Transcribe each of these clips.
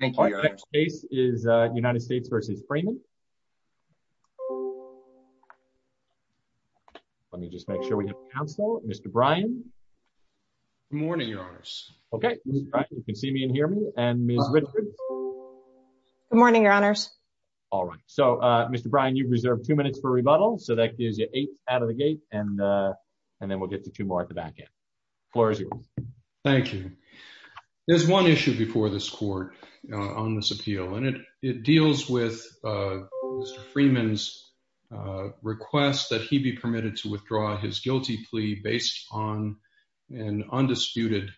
The next case is United States v. Freeman. Let me just make sure we have counsel. Mr. Brian. Good morning, your honors. Okay. You can see me and hear me. And Ms. Richards. Good morning, your honors. All right. So, Mr. Brian, you've reserved two minutes for rebuttal. So that gives you eight out of the gate. And then we'll get to two more at the back end. Floor is yours. Thank you. There's one issue before this court on this appeal. And it deals with Mr. Freeman's request that he be permitted to withdraw his guilty plea based on an undisputed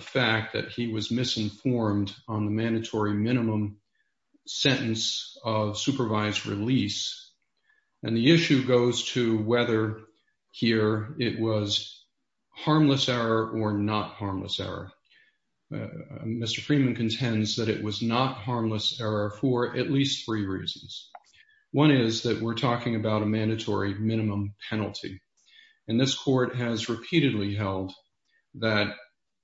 fact that he was misinformed on the mandatory minimum sentence of supervised release. And the issue goes to whether here it was harmless error or not harmless error. Mr. Freeman contends that it was not harmless error for at least three reasons. One is that we're talking about a mandatory minimum penalty. And this court has repeatedly held that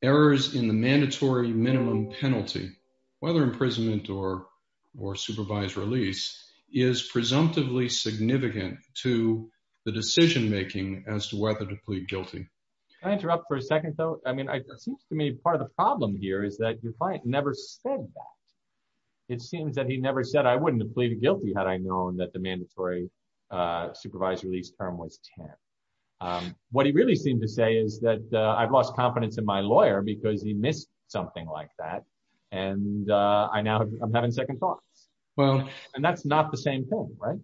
errors in the mandatory minimum penalty, whether imprisonment or supervised release is presumptively significant to the decision making as to whether to plead guilty. Can I interrupt for a second, though? I mean, it seems to me part of the problem here is that your client never said that. It seems that he never said I wouldn't have pleaded guilty had I known that the mandatory supervised release term was 10. What he really seemed to say is that I've lost confidence in my lawyer because he missed something like that. And I now I'm having second thoughts. Well, and that's not the same thing, right?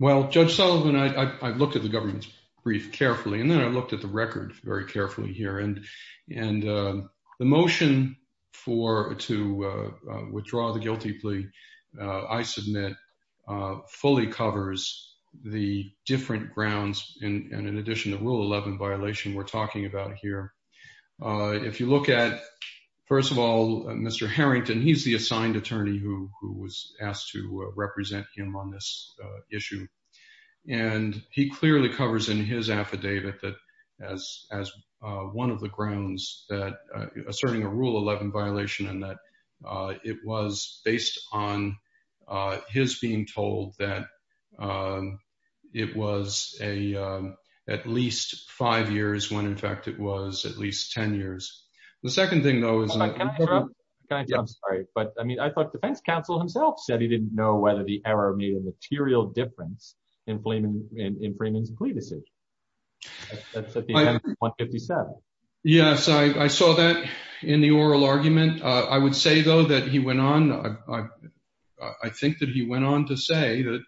Well, Judge Sullivan, I looked at the government's brief carefully. And then I looked at the record very carefully here. And and the motion for to withdraw the guilty plea, I submit fully covers the different grounds. And in addition to rule 11 violation we're talking about here, if you look at first of all, Mr. Harrington, he's the assigned attorney who was asked to represent him on this issue. And he clearly covers in his affidavit that as as one of the grounds that asserting a rule 11 violation and that it was based on his being told that it was a at least five years when in fact it was at least 10 years. The second thing, though, is I'm sorry, but I mean, I thought defense counsel himself said he didn't know whether the error made a material difference in Freeman's plea decision. That's what he said. Yes, I saw that in the oral argument. I would say, though, that he went on. I think that he went on to say that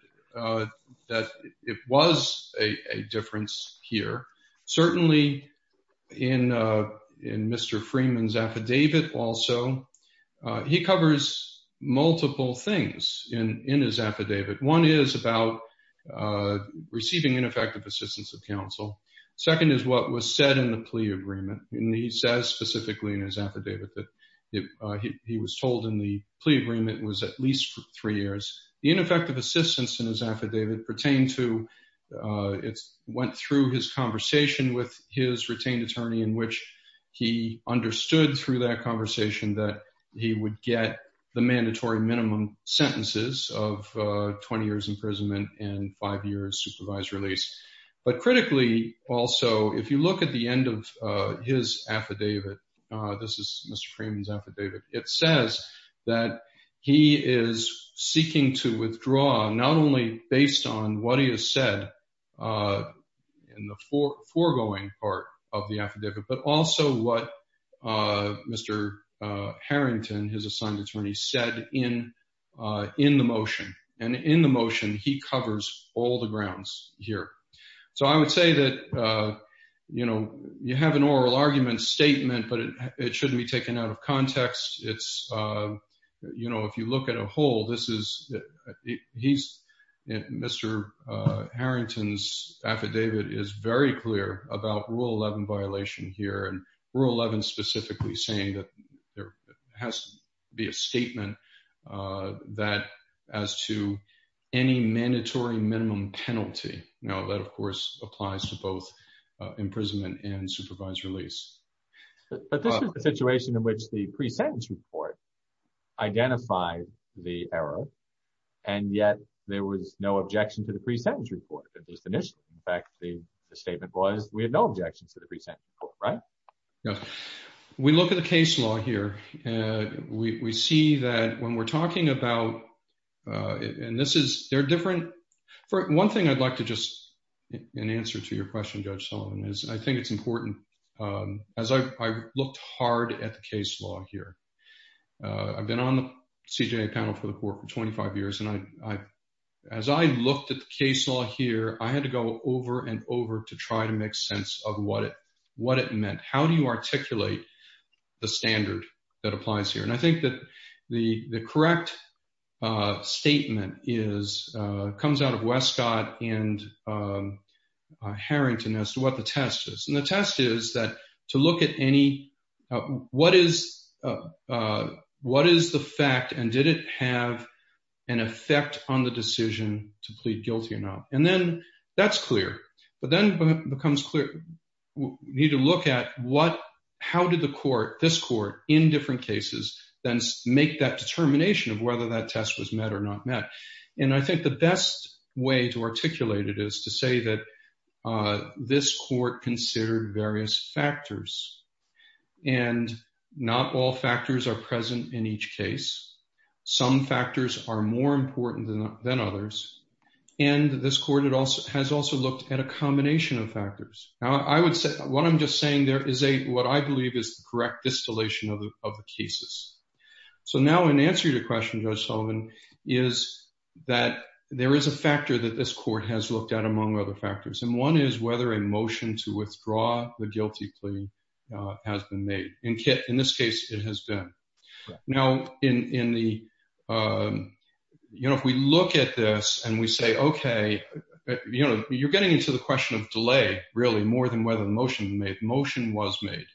that it was a difference here, certainly in in Mr. Freeman's affidavit. Also, he covers multiple things in his affidavit. One is about receiving ineffective assistance of counsel. Second is what was said in the plea agreement. And he says specifically in his affidavit that he was told in the plea agreement was at least three years. The ineffective assistance in his affidavit pertained to it went through his conversation with his retained attorney in which he understood through that conversation that he would get the mandatory minimum sentences of 20 years imprisonment and five years supervised release. But critically, also, if you look at the end of his affidavit, this is Mr. Freeman's affidavit. It says that he is seeking to withdraw not only based on what he has said in the four foregoing part of the affidavit, but also what Mr. Harrington, his assigned attorney, said in the motion. And in the motion, he covers all the grounds here. So I would say that you have an oral argument statement, but it shouldn't be taken out of context. If you look at a whole, Mr. Harrington's affidavit is very clear about Rule 11 violation here. And Rule 11 specifically saying that there has to be a statement that as to any mandatory minimum penalty. Now, that, of course, applies to both imprisonment and supervised release. But this is the situation in which the pre-sentence report identified the error, and yet there was no objection to the pre-sentence report that was initial. In fact, the statement was we had no objections to the pre-sentence report, right? We look at the case law here. We see that when we're talking about, and this is, they're different. One thing I'd like to just, in answer to your question, Judge Sullivan, is I think it's important. As I looked hard at the case law here, I've been on the CJA panel for the court for 25 years. And as I looked at the case law here, I had to go over and over to try to make sense of what it meant. How do you articulate the standard that applies here? And I think that the correct statement comes out of Westcott and Harrington as to what the test is. And the test is that to look at any, what is the fact and did it have an effect on the decision to plead guilty or not? And then that's clear, but then becomes clear. We need to look at what, how did the court, this court in different cases, then make that determination of whether that test was met or not met. And I think the best way to articulate it is to say that this court considered various factors and not all factors are present in each case. Some factors are more important than others. And this court has also looked at a combination of factors. Now I would say, what I'm just saying there is a, what I believe is the correct distillation of the cases. So now in answer to your question, Judge Sullivan, is that there is a factor that this court has looked at among other factors. And one is whether a motion to withdraw the guilty plea has been made. In this case, it has been. Now, if we look at this and we say, okay, you're getting into the question of delay really more than whether the motion was made.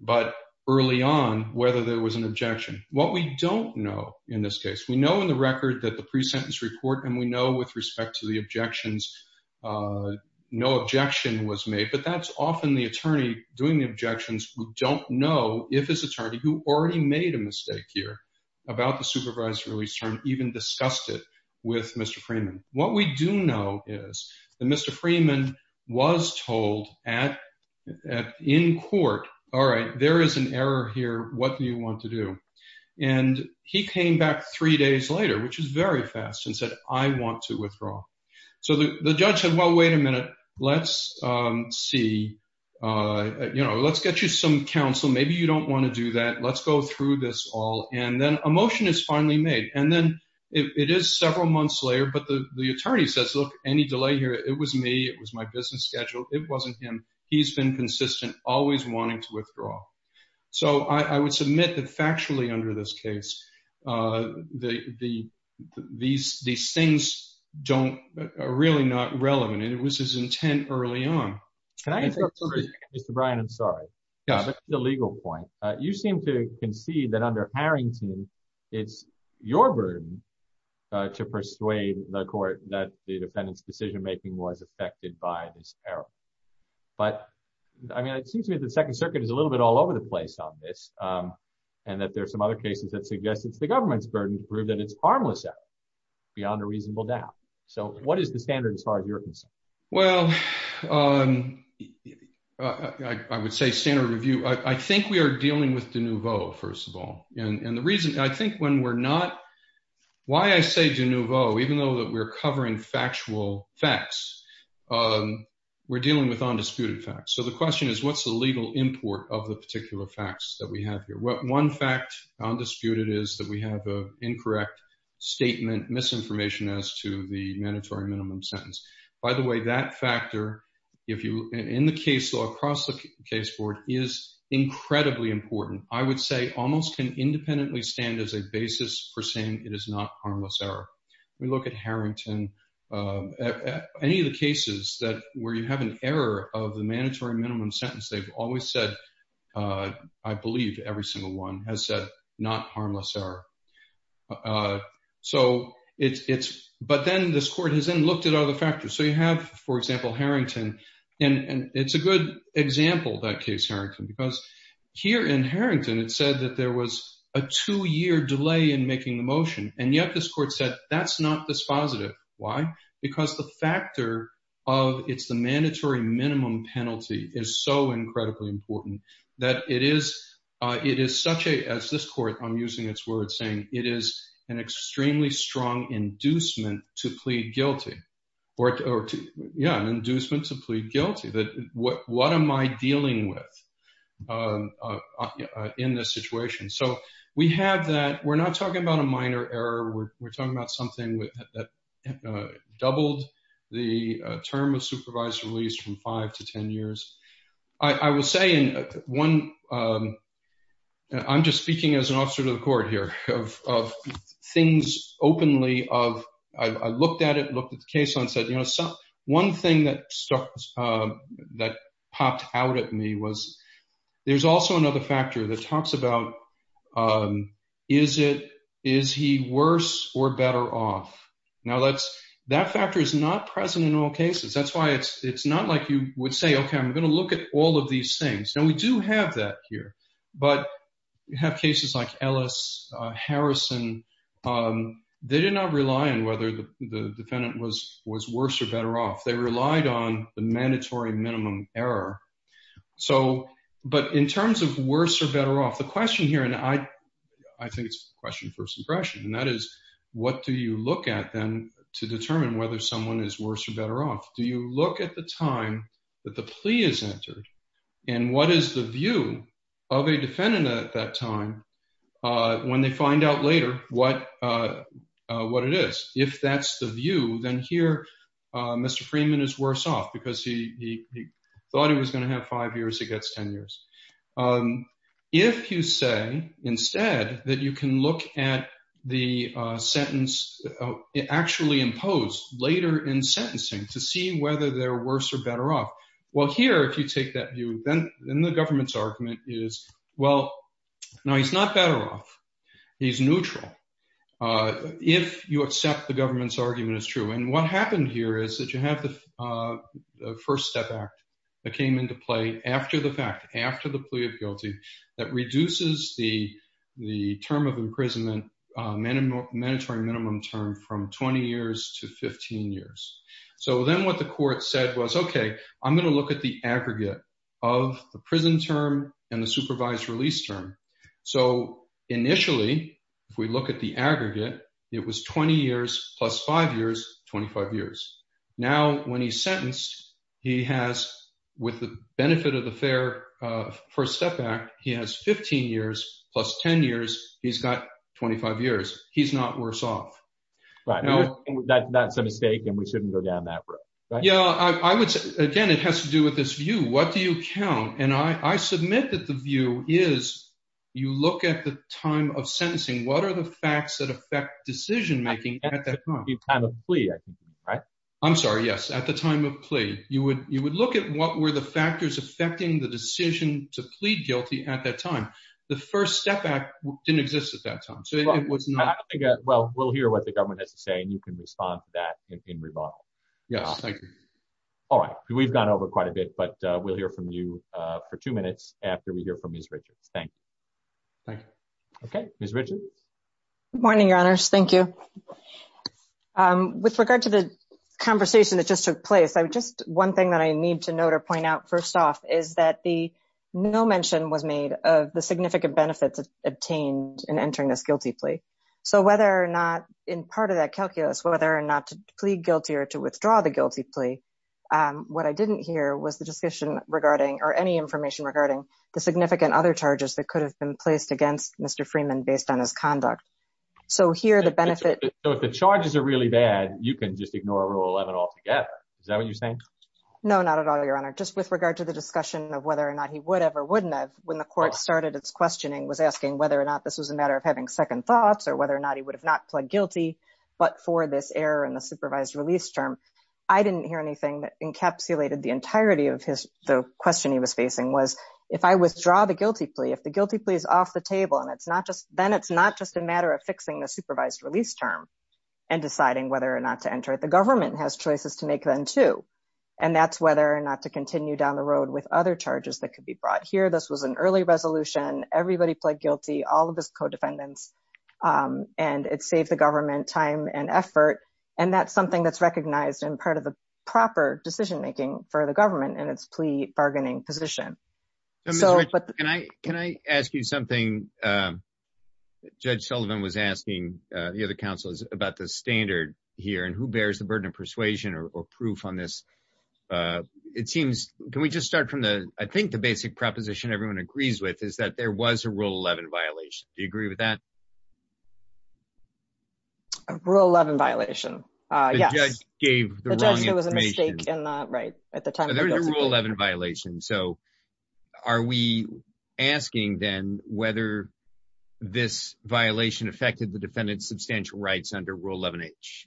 But early on, whether there was an objection. What we don't know in this case, we know in the record that the pre-sentence report, and we know with respect to the objections, no objection was made, but that's often the attorney doing the objections who don't know if his attorney, who already made a mistake here about the supervised release term, even discussed it with Mr. Freeman. What we do know is that Mr. Freeman was told in court, all right, there is an error here. What do you want to do? And he came back three days later, which is very fast, and said, I want to withdraw. So the judge said, well, wait a minute, let's see, you know, let's get you some counsel. Maybe you don't want to do that. Let's go through this all. And then a motion is finally made. And then it is several months later, but the attorney says, look, any delay here, it was me, it was my business schedule. It wasn't him. He's been consistent, always wanting to withdraw. So I would submit that factually under this case, these things are really not relevant. It was his intent early on. Can I interrupt for a second, Mr. Bryan? I'm sorry. That's the legal point. You seem to concede that under Harrington, it's your burden to persuade the court that the defendant's decision making was affected by this error. But I mean, it seems to me that the Second Circuit is a little bit all over the place on this, and that there's some other cases that suggest it's the government's burden to prove that it's harmless error beyond a reasonable doubt. So what is the standard as far as you're concerned? Well, I would say standard review. I think we are dealing with de nouveau, first of all. And the reason I think when we're not, why I say de nouveau, even though that we're covering factual facts, we're dealing with undisputed facts. So the question is, what's the legal import of the particular facts that we have here? One fact, undisputed, is that we have an incorrect statement, misinformation as to the mandatory minimum sentence. By the way, that factor, in the case law, across the case board, is incredibly important. I would say almost can independently stand as a basis for saying it is not harmless error. We look at Harrington. Any of the cases that where you have an error of the mandatory minimum sentence, they've always said, I believe every single one has said not harmless error. So it's, but then this court has then looked at other factors. So you have, for example, Harrington, and it's a good example, that case Harrington, because here in Harrington, it said that there was a two-year delay in making the motion. And yet this court said, that's not dispositive. Why? Because the factor of it's the that it is such a, as this court, I'm using its word saying, it is an extremely strong inducement to plead guilty. Or, yeah, an inducement to plead guilty. What am I dealing with in this situation? So we have that, we're not talking about a minor error, we're talking about that doubled the term of supervised release from five to 10 years. I will say in one, I'm just speaking as an officer to the court here of things openly of, I looked at it, looked at the case and said, you know, so one thing that stuck, that popped out at me was, there's also another factor that talks about, is it, is he worse or better off? Now that's, that factor is not present in all cases. That's why it's not like you would say, okay, I'm going to look at all of these things. Now we do have that here, but you have cases like Ellis, Harrison, they did not rely on whether the defendant was worse or better off. They relied on the mandatory minimum error. So, but in terms of worse or better off, the question here, and I, I think it's a question for suppression. And that is, what do you look at then to determine whether someone is worse or better off? Do you look at the time that the plea is entered? And what is the view of a defendant at that time? When they find out later what, what it is, if that's the view, then here, Mr. Freeman is worse off because he thought he was going to have five years, he gets 10 years. If you say instead that you can look at the sentence, actually imposed later in sentencing to see whether they're worse or better off. Well here, if you take that view, then the government's argument is, well, no, he's not better off. He's neutral. If you accept the government's argument is true. And what happened here is that you have the first step act that came into play after the fact, after the plea of guilty, that reduces the, the term of imprisonment, mandatory minimum term from 20 years to 15 years. So then what the court said was, okay, I'm going to look at the aggregate of the prison term and the supervised release term. So initially, if we look at the aggregate, it was 20 years plus five years, 25 years. Now, when he's sentenced, he has, with the benefit of the fair first step act, he has 15 years plus 10 years. He's got 25 years. He's not worse off. Right. That's a mistake and we shouldn't go down that road. Yeah. I would say again, it has to do with this view. What do you count? And I, I submit that the view is you look at the time of sentencing. What are the facts that affect decision-making at that time? At the time of plea, right? I'm sorry. Yes. At the time of plea, you would, you would look at what were the factors affecting the decision to plead guilty at that time. The first step act didn't exist at that time. So it was not. Well, we'll hear what the government has to say and you can respond to that in rebuttal. Yes. Thank you. All right. We've gone over quite a bit, but we'll hear from you for two minutes after we hear from Ms. Richards. Thank you. Thank you. Okay. Ms. Richards. Good morning, your honors. Thank you. With regard to the conversation that just took place, just one thing that I need to note or point out first off is that the no mention was made of the significant benefits obtained in entering this guilty plea. So whether or not in part of that calculus, whether or not to plead guilty or to withdraw the guilty plea, what I didn't hear was the discussion regarding or any information regarding the significant other charges that could have been placed against Mr. Freeman based on his conduct. So here the benefit. So if the charges are really bad, you can just ignore rule 11 altogether. Is that what you're saying? No, not at all, your honor. Just with regard to the discussion of whether or not he would have or wouldn't have, when the court started its questioning was asking whether or not this was a matter of having second thoughts or whether or not he would have not pled guilty. But for this error in the supervised release term, I didn't hear anything that the question he was facing was if I withdraw the guilty plea, if the guilty plea is off the table and then it's not just a matter of fixing the supervised release term and deciding whether or not to enter it, the government has choices to make then too. And that's whether or not to continue down the road with other charges that could be brought here. This was an early resolution. Everybody pled guilty, all of his co-defendants, and it saved the government time and effort. And that's something that's recognized and part of the proper decision-making for the government and its plea bargaining position. Can I ask you something? Judge Sullivan was asking the other counsels about the standard here and who bears the burden of persuasion or proof on this? It seems, can we just start from the, I think the basic proposition everyone agrees with is that there was a Rule 11 violation. Do you agree with that? A Rule 11 violation? Yes. The judge gave the wrong information. The judge said it was a mistake at the time. There was a Rule 11 violation. So are we asking then whether this violation affected the defendant's substantial rights under Rule 11H?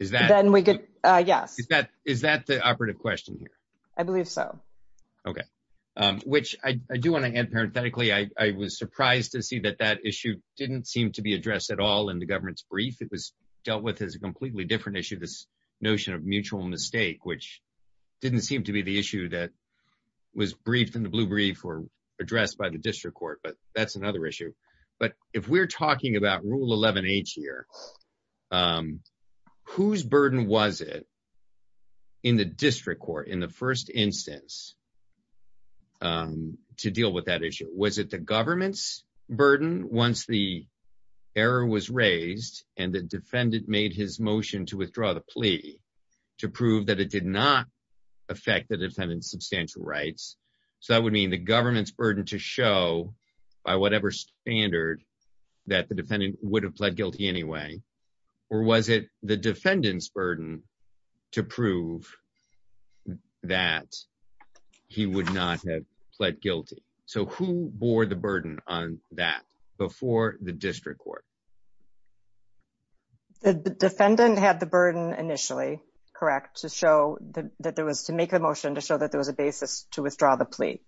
Then we could, yes. Is that the operative question here? I believe so. Okay. Which I do want to add parenthetically, I was surprised to see that that issue didn't seem to be addressed at all in the government's brief. It was dealt with as a completely different issue, this notion of mutual mistake, which didn't seem to be the issue that was briefed in the blue brief or addressed by the district court, but that's another issue. But if we're talking about Rule 11H here, whose burden was it in the district court in the first instance to deal with that issue? Was it the government's burden once the error was raised and the defendant made his motion to withdraw the plea to prove that it did not affect the defendant's substantial rights? So that would mean the government's burden to show by whatever standard that the defendant would have pled guilty anyway, or was it the defendant's burden to prove that he would not have pled guilty? So who bore the burden on that before the district court? The defendant had the burden initially, correct, to show that there was, to make a motion to show that there was a basis to withdraw the plea.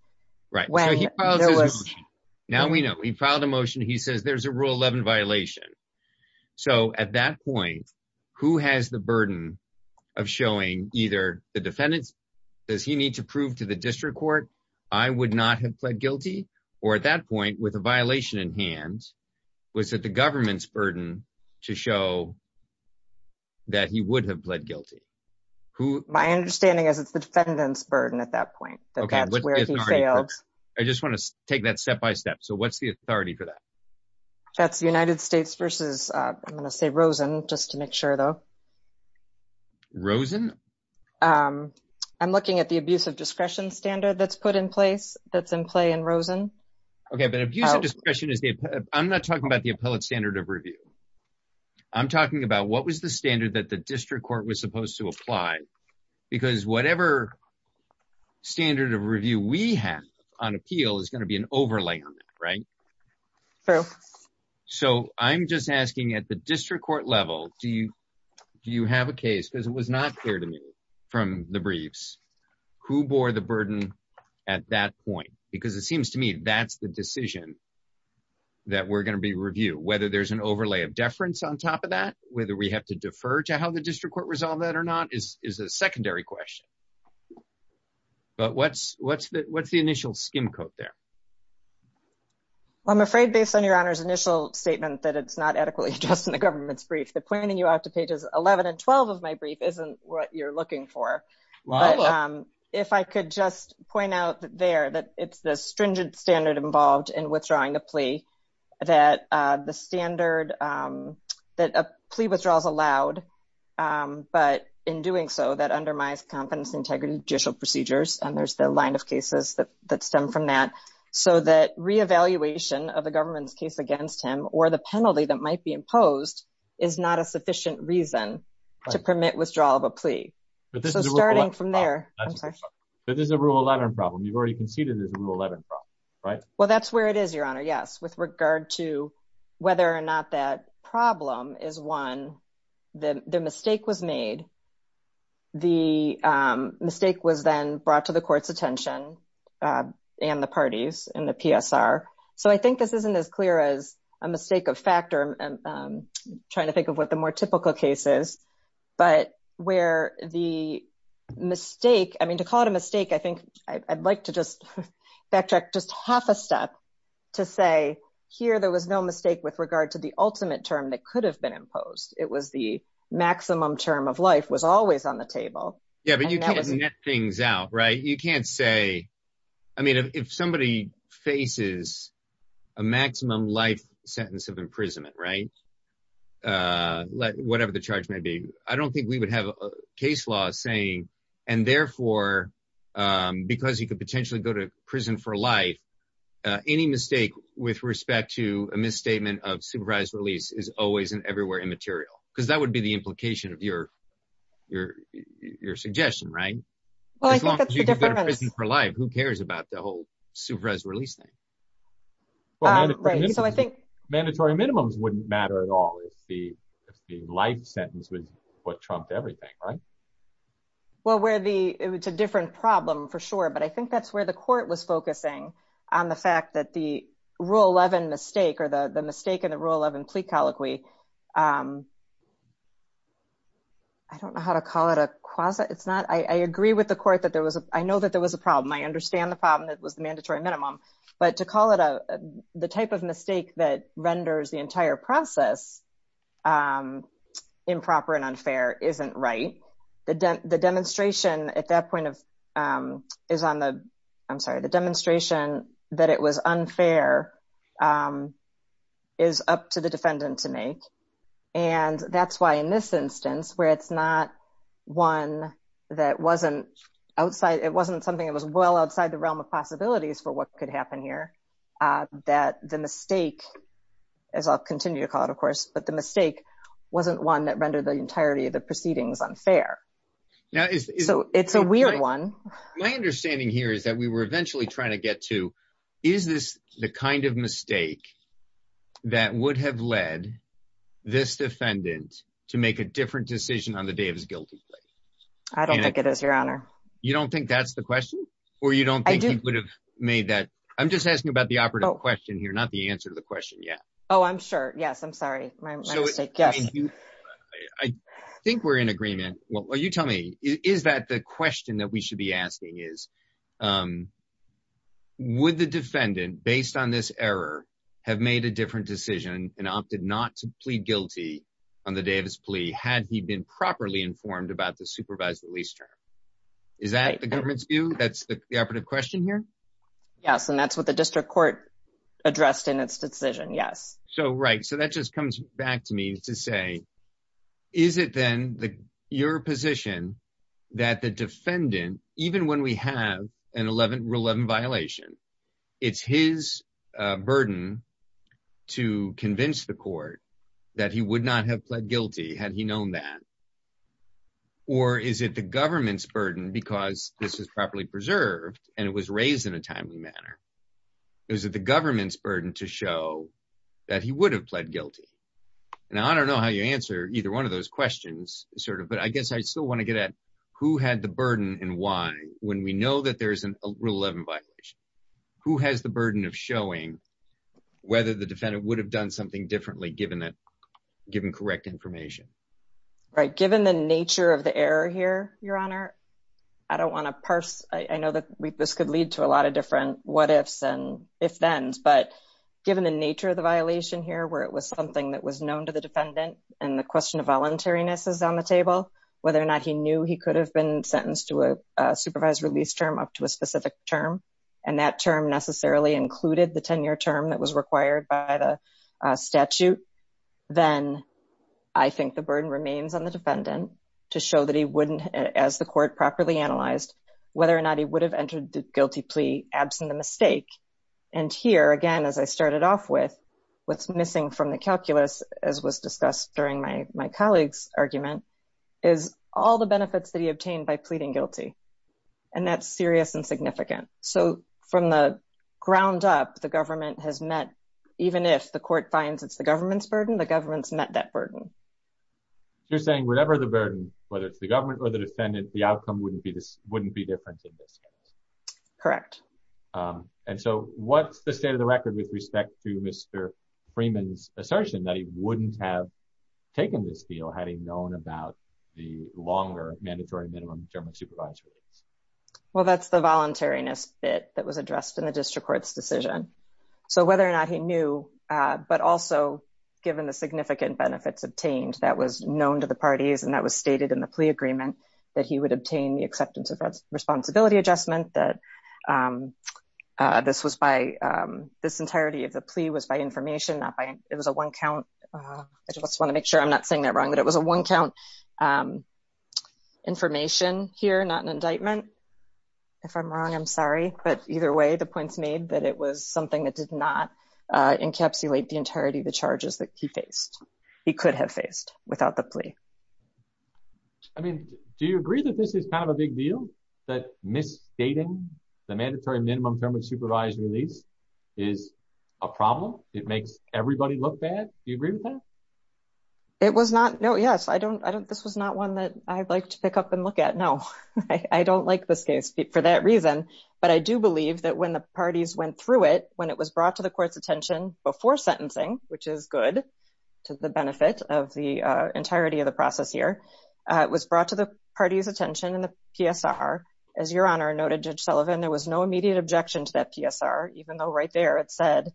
Right. Now we know. He filed a motion. He says there's a Rule 11 violation. So at that point, who has the burden of showing either the defendant's, does he need to prove to the district court, I would not have pled guilty, or at that point with a violation in hand, was it the government's burden to show that he would have pled guilty? My understanding is it's the defendant's burden at that point, that's where he failed. I just want to take that step by step. So what's the authority for that? That's the United States versus, I'm going to say Rosen, just to make sure though. Rosen? I'm looking at the abuse of discretion standard that's put in place, that's in play in Rosen. Okay, but abuse of discretion is the, I'm not talking about the appellate standard of review. I'm talking about what was the standard that the district court was supposed to apply? Because whatever standard of review we have on appeal is going to be an overlay on it, right? So I'm just asking at the district court level, do you have a case, because it was not clear to me from the briefs, who bore the burden at that point? Because it seems to me that's the decision that we're going to be reviewing. Whether there's an overlay of deference on top of that, whether we have to defer to how the district court resolved that or not is a secondary question. But what's the initial skim coat there? Well, I'm afraid based on your honor's initial statement that it's not adequately addressed in the government's brief, that pointing you out to pages 11 and 12 of my brief isn't what you're looking for. But if I could just point out there that it's the stringent standard involved in withdrawing a plea, that the standard, that a plea withdrawal is allowed, but in doing so, that undermines confidence integrity judicial procedures, and there's the line of cases that reevaluation of the government's case against him or the penalty that might be imposed is not a sufficient reason to permit withdrawal of a plea. So starting from there, I'm sorry. But this is a rule 11 problem. You've already conceded it's a rule 11 problem, right? Well, that's where it is, your honor. Yes. With regard to whether or not that problem is one, the mistake was made. The mistake was then brought to the court's attention and the parties and the PSR. So I think this isn't as clear as a mistake of factor, trying to think of what the more typical cases, but where the mistake, I mean, to call it a mistake, I think I'd like to just backtrack just half a step to say, here, there was no mistake with regard to the ultimate term that could have been imposed. It was the maximum term of life was always on the table. Yeah, but you can't net things out, right? You can't say, I mean, if somebody faces a maximum life sentence of imprisonment, right? Whatever the charge may be, I don't think we would have a case law saying, and therefore, because you could potentially go to prison for life, any mistake with respect to a misstatement of supervised release is always and everywhere immaterial, because that would be the implication of your suggestion, right? Well, I think that's the difference. As long as you can go to prison for life, who cares about the whole supervised release thing? Mandatory minimums wouldn't matter at all if the life sentence was what trumped everything, right? Well, it's a different problem for sure, but I think that's where the court was focusing on the fact that the Rule 11 mistake or the mistake in the Rule 11 complete colloquy, I don't know how to call it a quasi, it's not, I agree with the court that there was a, I know that there was a problem. I understand the problem that was the mandatory minimum, but to call it a, the type of mistake that renders the entire process improper and unfair isn't right. The demonstration at that point of, is on the, I'm sorry, the demonstration that it was unfair is up to the defendant to make. And that's why in this instance, where it's not one that wasn't outside, it wasn't something that was well outside the realm of possibilities for what could happen here, that the mistake, as I'll continue to call it, of course, but the mistake wasn't one that rendered the entirety of the proceedings unfair. So it's a weird one. My understanding here is that we were eventually trying to get to, is this the kind of mistake that would have led this defendant to make a different decision on the day of his guilty plea? I don't think it is, Your Honor. You don't think that's the question? Or you don't think he would have made that? I'm just asking about the operative question here, not the answer to the question yet. Oh, I'm sure. Yes. I'm sorry. My mistake. Yes. I think we're in agreement. Well, you tell me, is that the question that we should be asking is, would the defendant, based on this error, have made a different decision and opted not to plead guilty on the day of his plea had he been properly informed about the supervised release term? Is that the government's view? That's the operative question here? Yes. And that's what the district court addressed in its decision. Yes. So, right. So that just comes back to me to say, is it then your position that the defendant, even when we have a Rule 11 violation, it's his burden to convince the court that he would not have pled guilty had he known that? Or is it the government's burden because this is properly preserved and it was raised in a timely manner? Is it the government's burden to show that he would have pled guilty? And I don't know how you answer either one of those questions, sort of, but I guess I still want to get at who had the burden and why, when we know that there's a Rule 11 violation, who has the burden of showing whether the defendant would have done something differently given that, given correct information? Right. Given the nature of the error here, Your Honor, I don't want to parse. I know that this could lead to a lot of different what-ifs and if-thens, but given the nature of the violation here, where it was something that was known to the defendant and the question of voluntariness is on the table, whether or not he knew he could have been sentenced to a supervised release term up to a specific term, and that term necessarily included the 10-year term that was required by the statute, then I think the burden remains on the defendant to show that he wouldn't, as the court properly analyzed, whether or not he would have entered the guilty plea absent a mistake. And here, again, as I started off with, what's missing from the calculus, as was discussed during my colleague's argument, is all the benefits that he obtained by pleading guilty. And that's serious and significant. So from the ground up, the government has met, even if the court finds it's the government's burden, the government's met that burden. You're saying whatever the burden, whether it's the government or the defendant, the outcome wouldn't be different in this case. Correct. And so what's the state of the record with respect to Mr. Freeman's assertion that he wouldn't have taken this deal had he known about the longer mandatory minimum term of supervised release? Well, that's the voluntariness bit that was addressed in the district court's decision. So whether or not he knew, but also given the significant benefits obtained that was known to the parties, and that was stated in the plea agreement, that he would obtain the acceptance of responsibility adjustment, that this was by, this entirety of the plea was by information, not by, it was a one count. I just want to make sure I'm not saying that wrong, that it was a one count information here, not an indictment. If I'm wrong, I'm sorry. But either way, the point's made that it was something that did not encapsulate the entirety of the charges that he faced, he could have faced without the plea. I mean, do you agree that this is kind of a big deal, that misstating the mandatory minimum term of supervised release is a problem? It makes everybody look bad? Do you agree with that? It was not, no, yes. I don't, this was not one that I'd like to pick up and look at. No, I don't like this case for that reason. But I do believe that the parties went through it when it was brought to the court's attention before sentencing, which is good to the benefit of the entirety of the process here. It was brought to the party's attention in the PSR. As Your Honor noted, Judge Sullivan, there was no immediate objection to that PSR, even though right there it said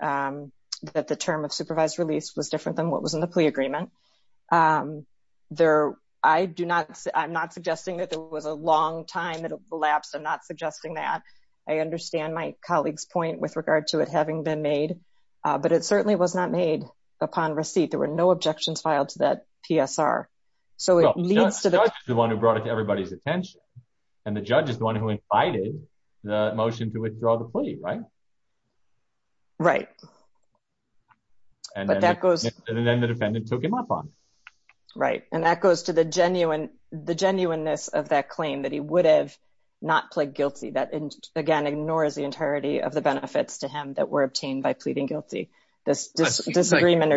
that the term of supervised release was different than what was in the plea agreement. There, I do not, I'm not suggesting that there was a long time that it collapsed. I'm not suggesting that. I understand my colleague's point with regard to it having been made. But it certainly was not made upon receipt. There were no objections filed to that PSR. So it leads to the one who brought it to everybody's attention. And the judge is the one who invited the motion to withdraw the plea, right? Right. But that goes, and then the defendant took up on. Right. And that goes to the genuine, the genuineness of that claim that he would have not pled guilty. That again, ignores the entirety of the benefits to him that were obtained by pleading guilty. This disagreement.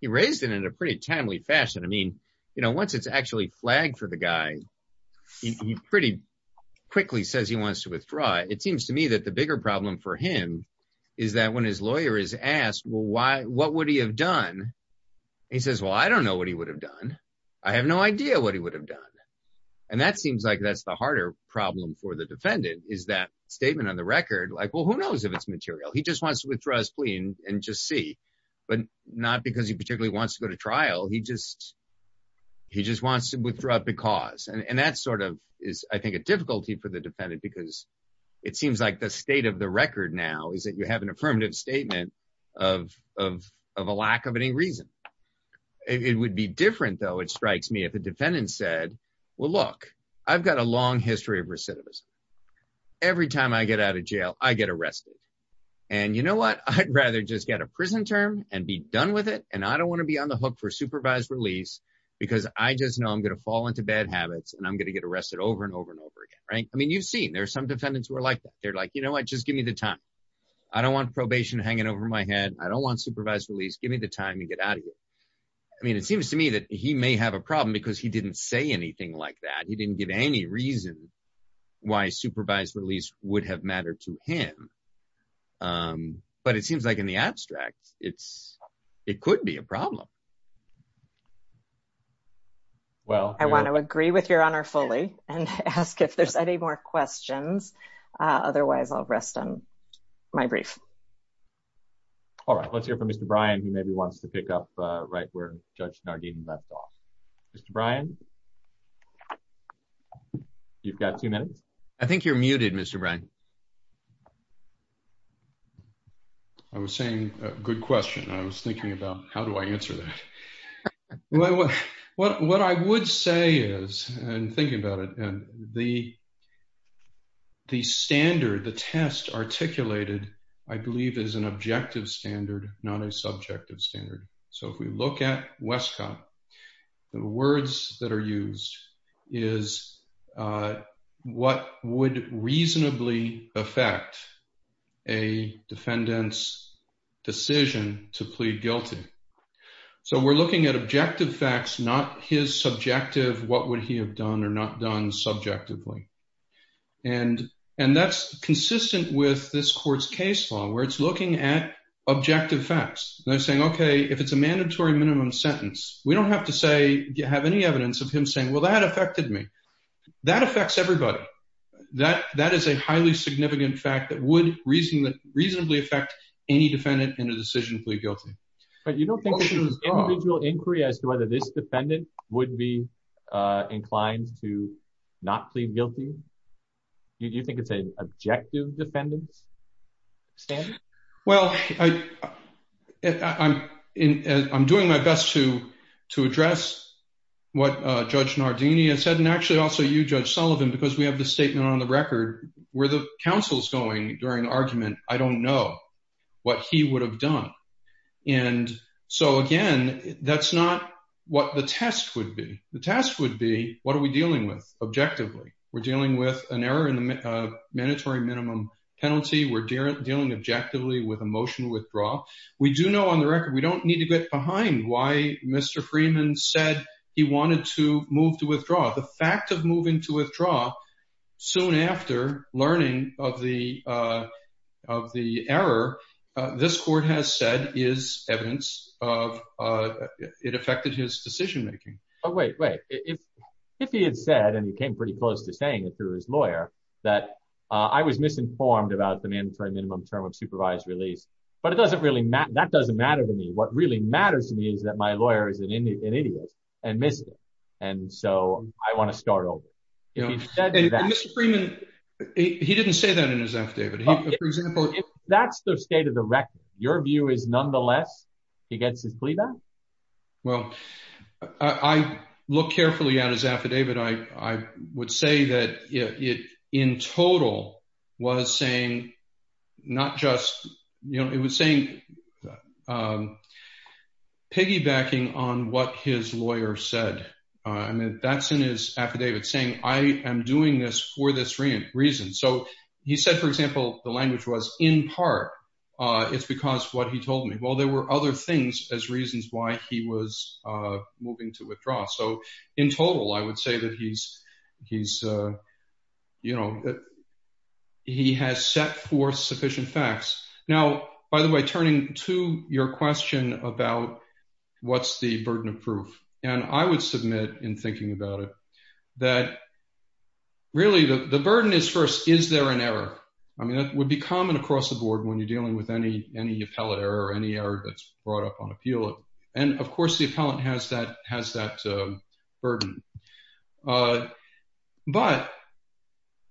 He raised it in a pretty timely fashion. I mean, you know, once it's actually flagged for the guy, he pretty quickly says he wants to withdraw. It seems to me that the bigger problem for him is that when his lawyer is asked, well, why, what would he have done? He says, well, I don't know what he would have done. I have no idea what he would have done. And that seems like that's the harder problem for the defendant is that statement on the record. Like, well, who knows if it's material? He just wants to withdraw his plea and just see, but not because he particularly wants to go to trial. He just, he just wants to withdraw because, and that sort of is, I think, a difficulty for the defendant because it seems like the state of the record now is that you have an affirmative statement of, of, of a lack of any reason. It would be different though. It strikes me if the defendant said, well, look, I've got a long history of recidivism. Every time I get out of jail, I get arrested. And you know what? I'd rather just get a prison term and be done with it. And I don't want to be on the hook for supervised release because I just know I'm going to fall into bad habits and I'm going to get arrested over and over and over again. Right? I mean, you've seen, there are some defendants who are like that. They're like, you know what? Just give me the time. I don't want probation hanging over my head. I don't want supervised release. Give me the time to get out of here. I mean, it seems to me that he may have a problem because he didn't say anything like that. He didn't give any reason why supervised release would have mattered to him. But it seems like in the abstract, it's, it could be a problem. Well, I want to agree with your honor fully and ask if there's any more questions. Otherwise, I'll rest on my brief. All right. Let's hear from Mr. Brian. He maybe wants to pick up right where Judge Nardin left off. Mr. Brian, you've got two minutes. I think you're muted, Mr. Brian. I was saying a good question. I was thinking about how do I answer that? Well, what I would say is, and thinking about it, the standard, the test articulated, I believe is an objective standard, not a subjective standard. So if we look at Westcott, the words that are used is what would reasonably affect a defendant's decision to plead guilty. So we're looking at objective facts, not his subjective, what would he have done or not done subjectively. And that's consistent with this court's case law, where it's looking at objective facts. They're saying, okay, if it's a mandatory minimum sentence, we don't have to say, you have any evidence of him saying, well, that affected me. That affects everybody. That is a highly significant fact that would reasonably affect any defendant in a decision to plead guilty. But you don't think there's an individual inquiry as to whether this defendant would be inclined to not plead guilty? Do you think it's an objective defendant's standard? Well, I'm doing my best to address what Judge Nardini has said, and actually also you, Judge Sullivan, because we have the statement on the record where the counsel's going during the argument. I don't know what he would have done. And so again, that's not what the test would be. The test would be, what are we dealing with objectively? We're dealing with an error in the mandatory minimum penalty. We're dealing objectively with a motion to withdraw. We do know on the record, we don't need to get behind why Mr. Freeman said he wanted to move to withdraw. The fact of moving to withdraw soon after learning of the error, this court has said is evidence of it affected his decision making. Oh, wait, wait. If he had said, and he came pretty close to saying it through his lawyer, that I was misinformed about the mandatory minimum term of supervised release, but that doesn't matter to me. What really matters to me is that my lawyer is an idiot and missed it. And so I want to start over. Mr. Freeman, he didn't say that in his affidavit. That's the state of the record. Your view is nonetheless, he gets his plea back? Well, I look carefully at his affidavit. I would say that it in total was saying, not just, it was saying, piggybacking on what his lawyer said. That's in his affidavit saying, I am doing this for this reason. So he said, for example, the language was in part, it's because what he told me. Well, there were other things as reasons why he was moving to force sufficient facts. Now, by the way, turning to your question about what's the burden of proof, and I would submit in thinking about it, that really the burden is first, is there an error? I mean, that would be common across the board when you're dealing with any appellate error, any error that's brought up on appeal. And of course, the appellant has that burden. But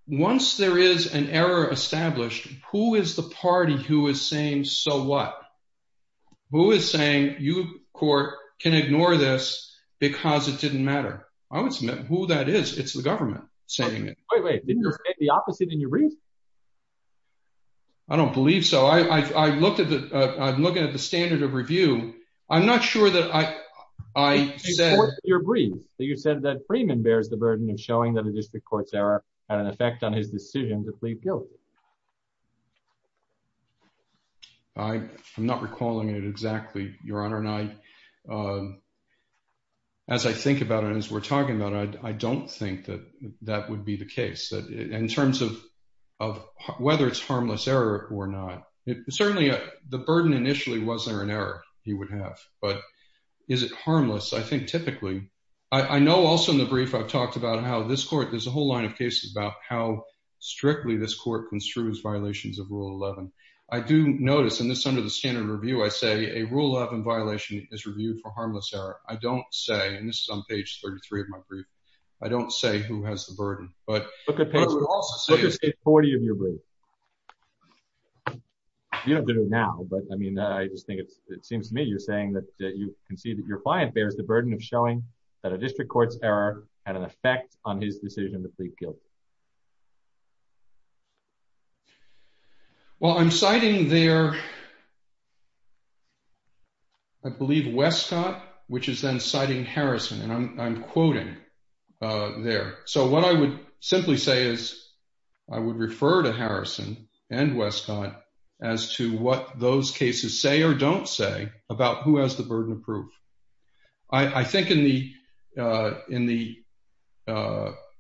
once there is an error established, who is the party who is saying, so what? Who is saying you, court, can ignore this because it didn't matter? I would submit who that is. It's the government saying it. Wait, wait, didn't you say the opposite in your brief? I don't believe so. I've looked at the standard of review. I'm not sure that I said... In your brief, you said that Freeman bears the burden of showing that a district court's error had an effect on his decision to plead guilty. I'm not recalling it exactly, Your Honor. And as I think about it, as we're talking about it, I don't think that that would be the case. In terms of whether it's harmless error or not, certainly the burden initially was there an error he would have, but is it harmless? I think typically... I know also in the brief I've talked about how this court, there's a whole line of cases about how strictly this court construes violations of Rule 11. I do notice, and this is under the standard of review, I say a Rule 11 violation is reviewed for harmless error. I don't say, and this is on page 33 of my brief, I don't say who has the burden. But I would also say... Look at page 40 of your brief. You don't have to do it now, but I mean, I just think it seems to me you're saying that you can see that your client bears burden of showing that a district court's error had an effect on his decision to plead guilty. Well, I'm citing there, I believe, Westcott, which is then citing Harrison, and I'm quoting there. So what I would simply say is, I would refer to Harrison and Westcott as to what those cases say or don't say about who has the burden of proof. I think in the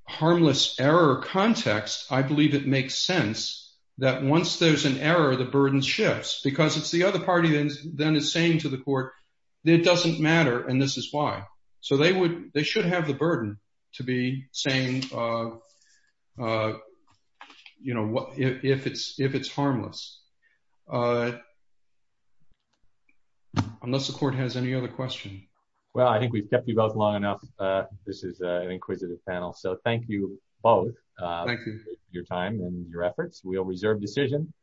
harmless error context, I believe it makes sense that once there's an error, the burden shifts, because it's the other party then is saying to the court, it doesn't matter, and this is why. So they should have the burden to be saying if it's harmless. Unless the court has any other question. Well, I think we've kept you both long enough. This is an inquisitive panel. So thank you both for your time and your efforts. We'll reserve decision.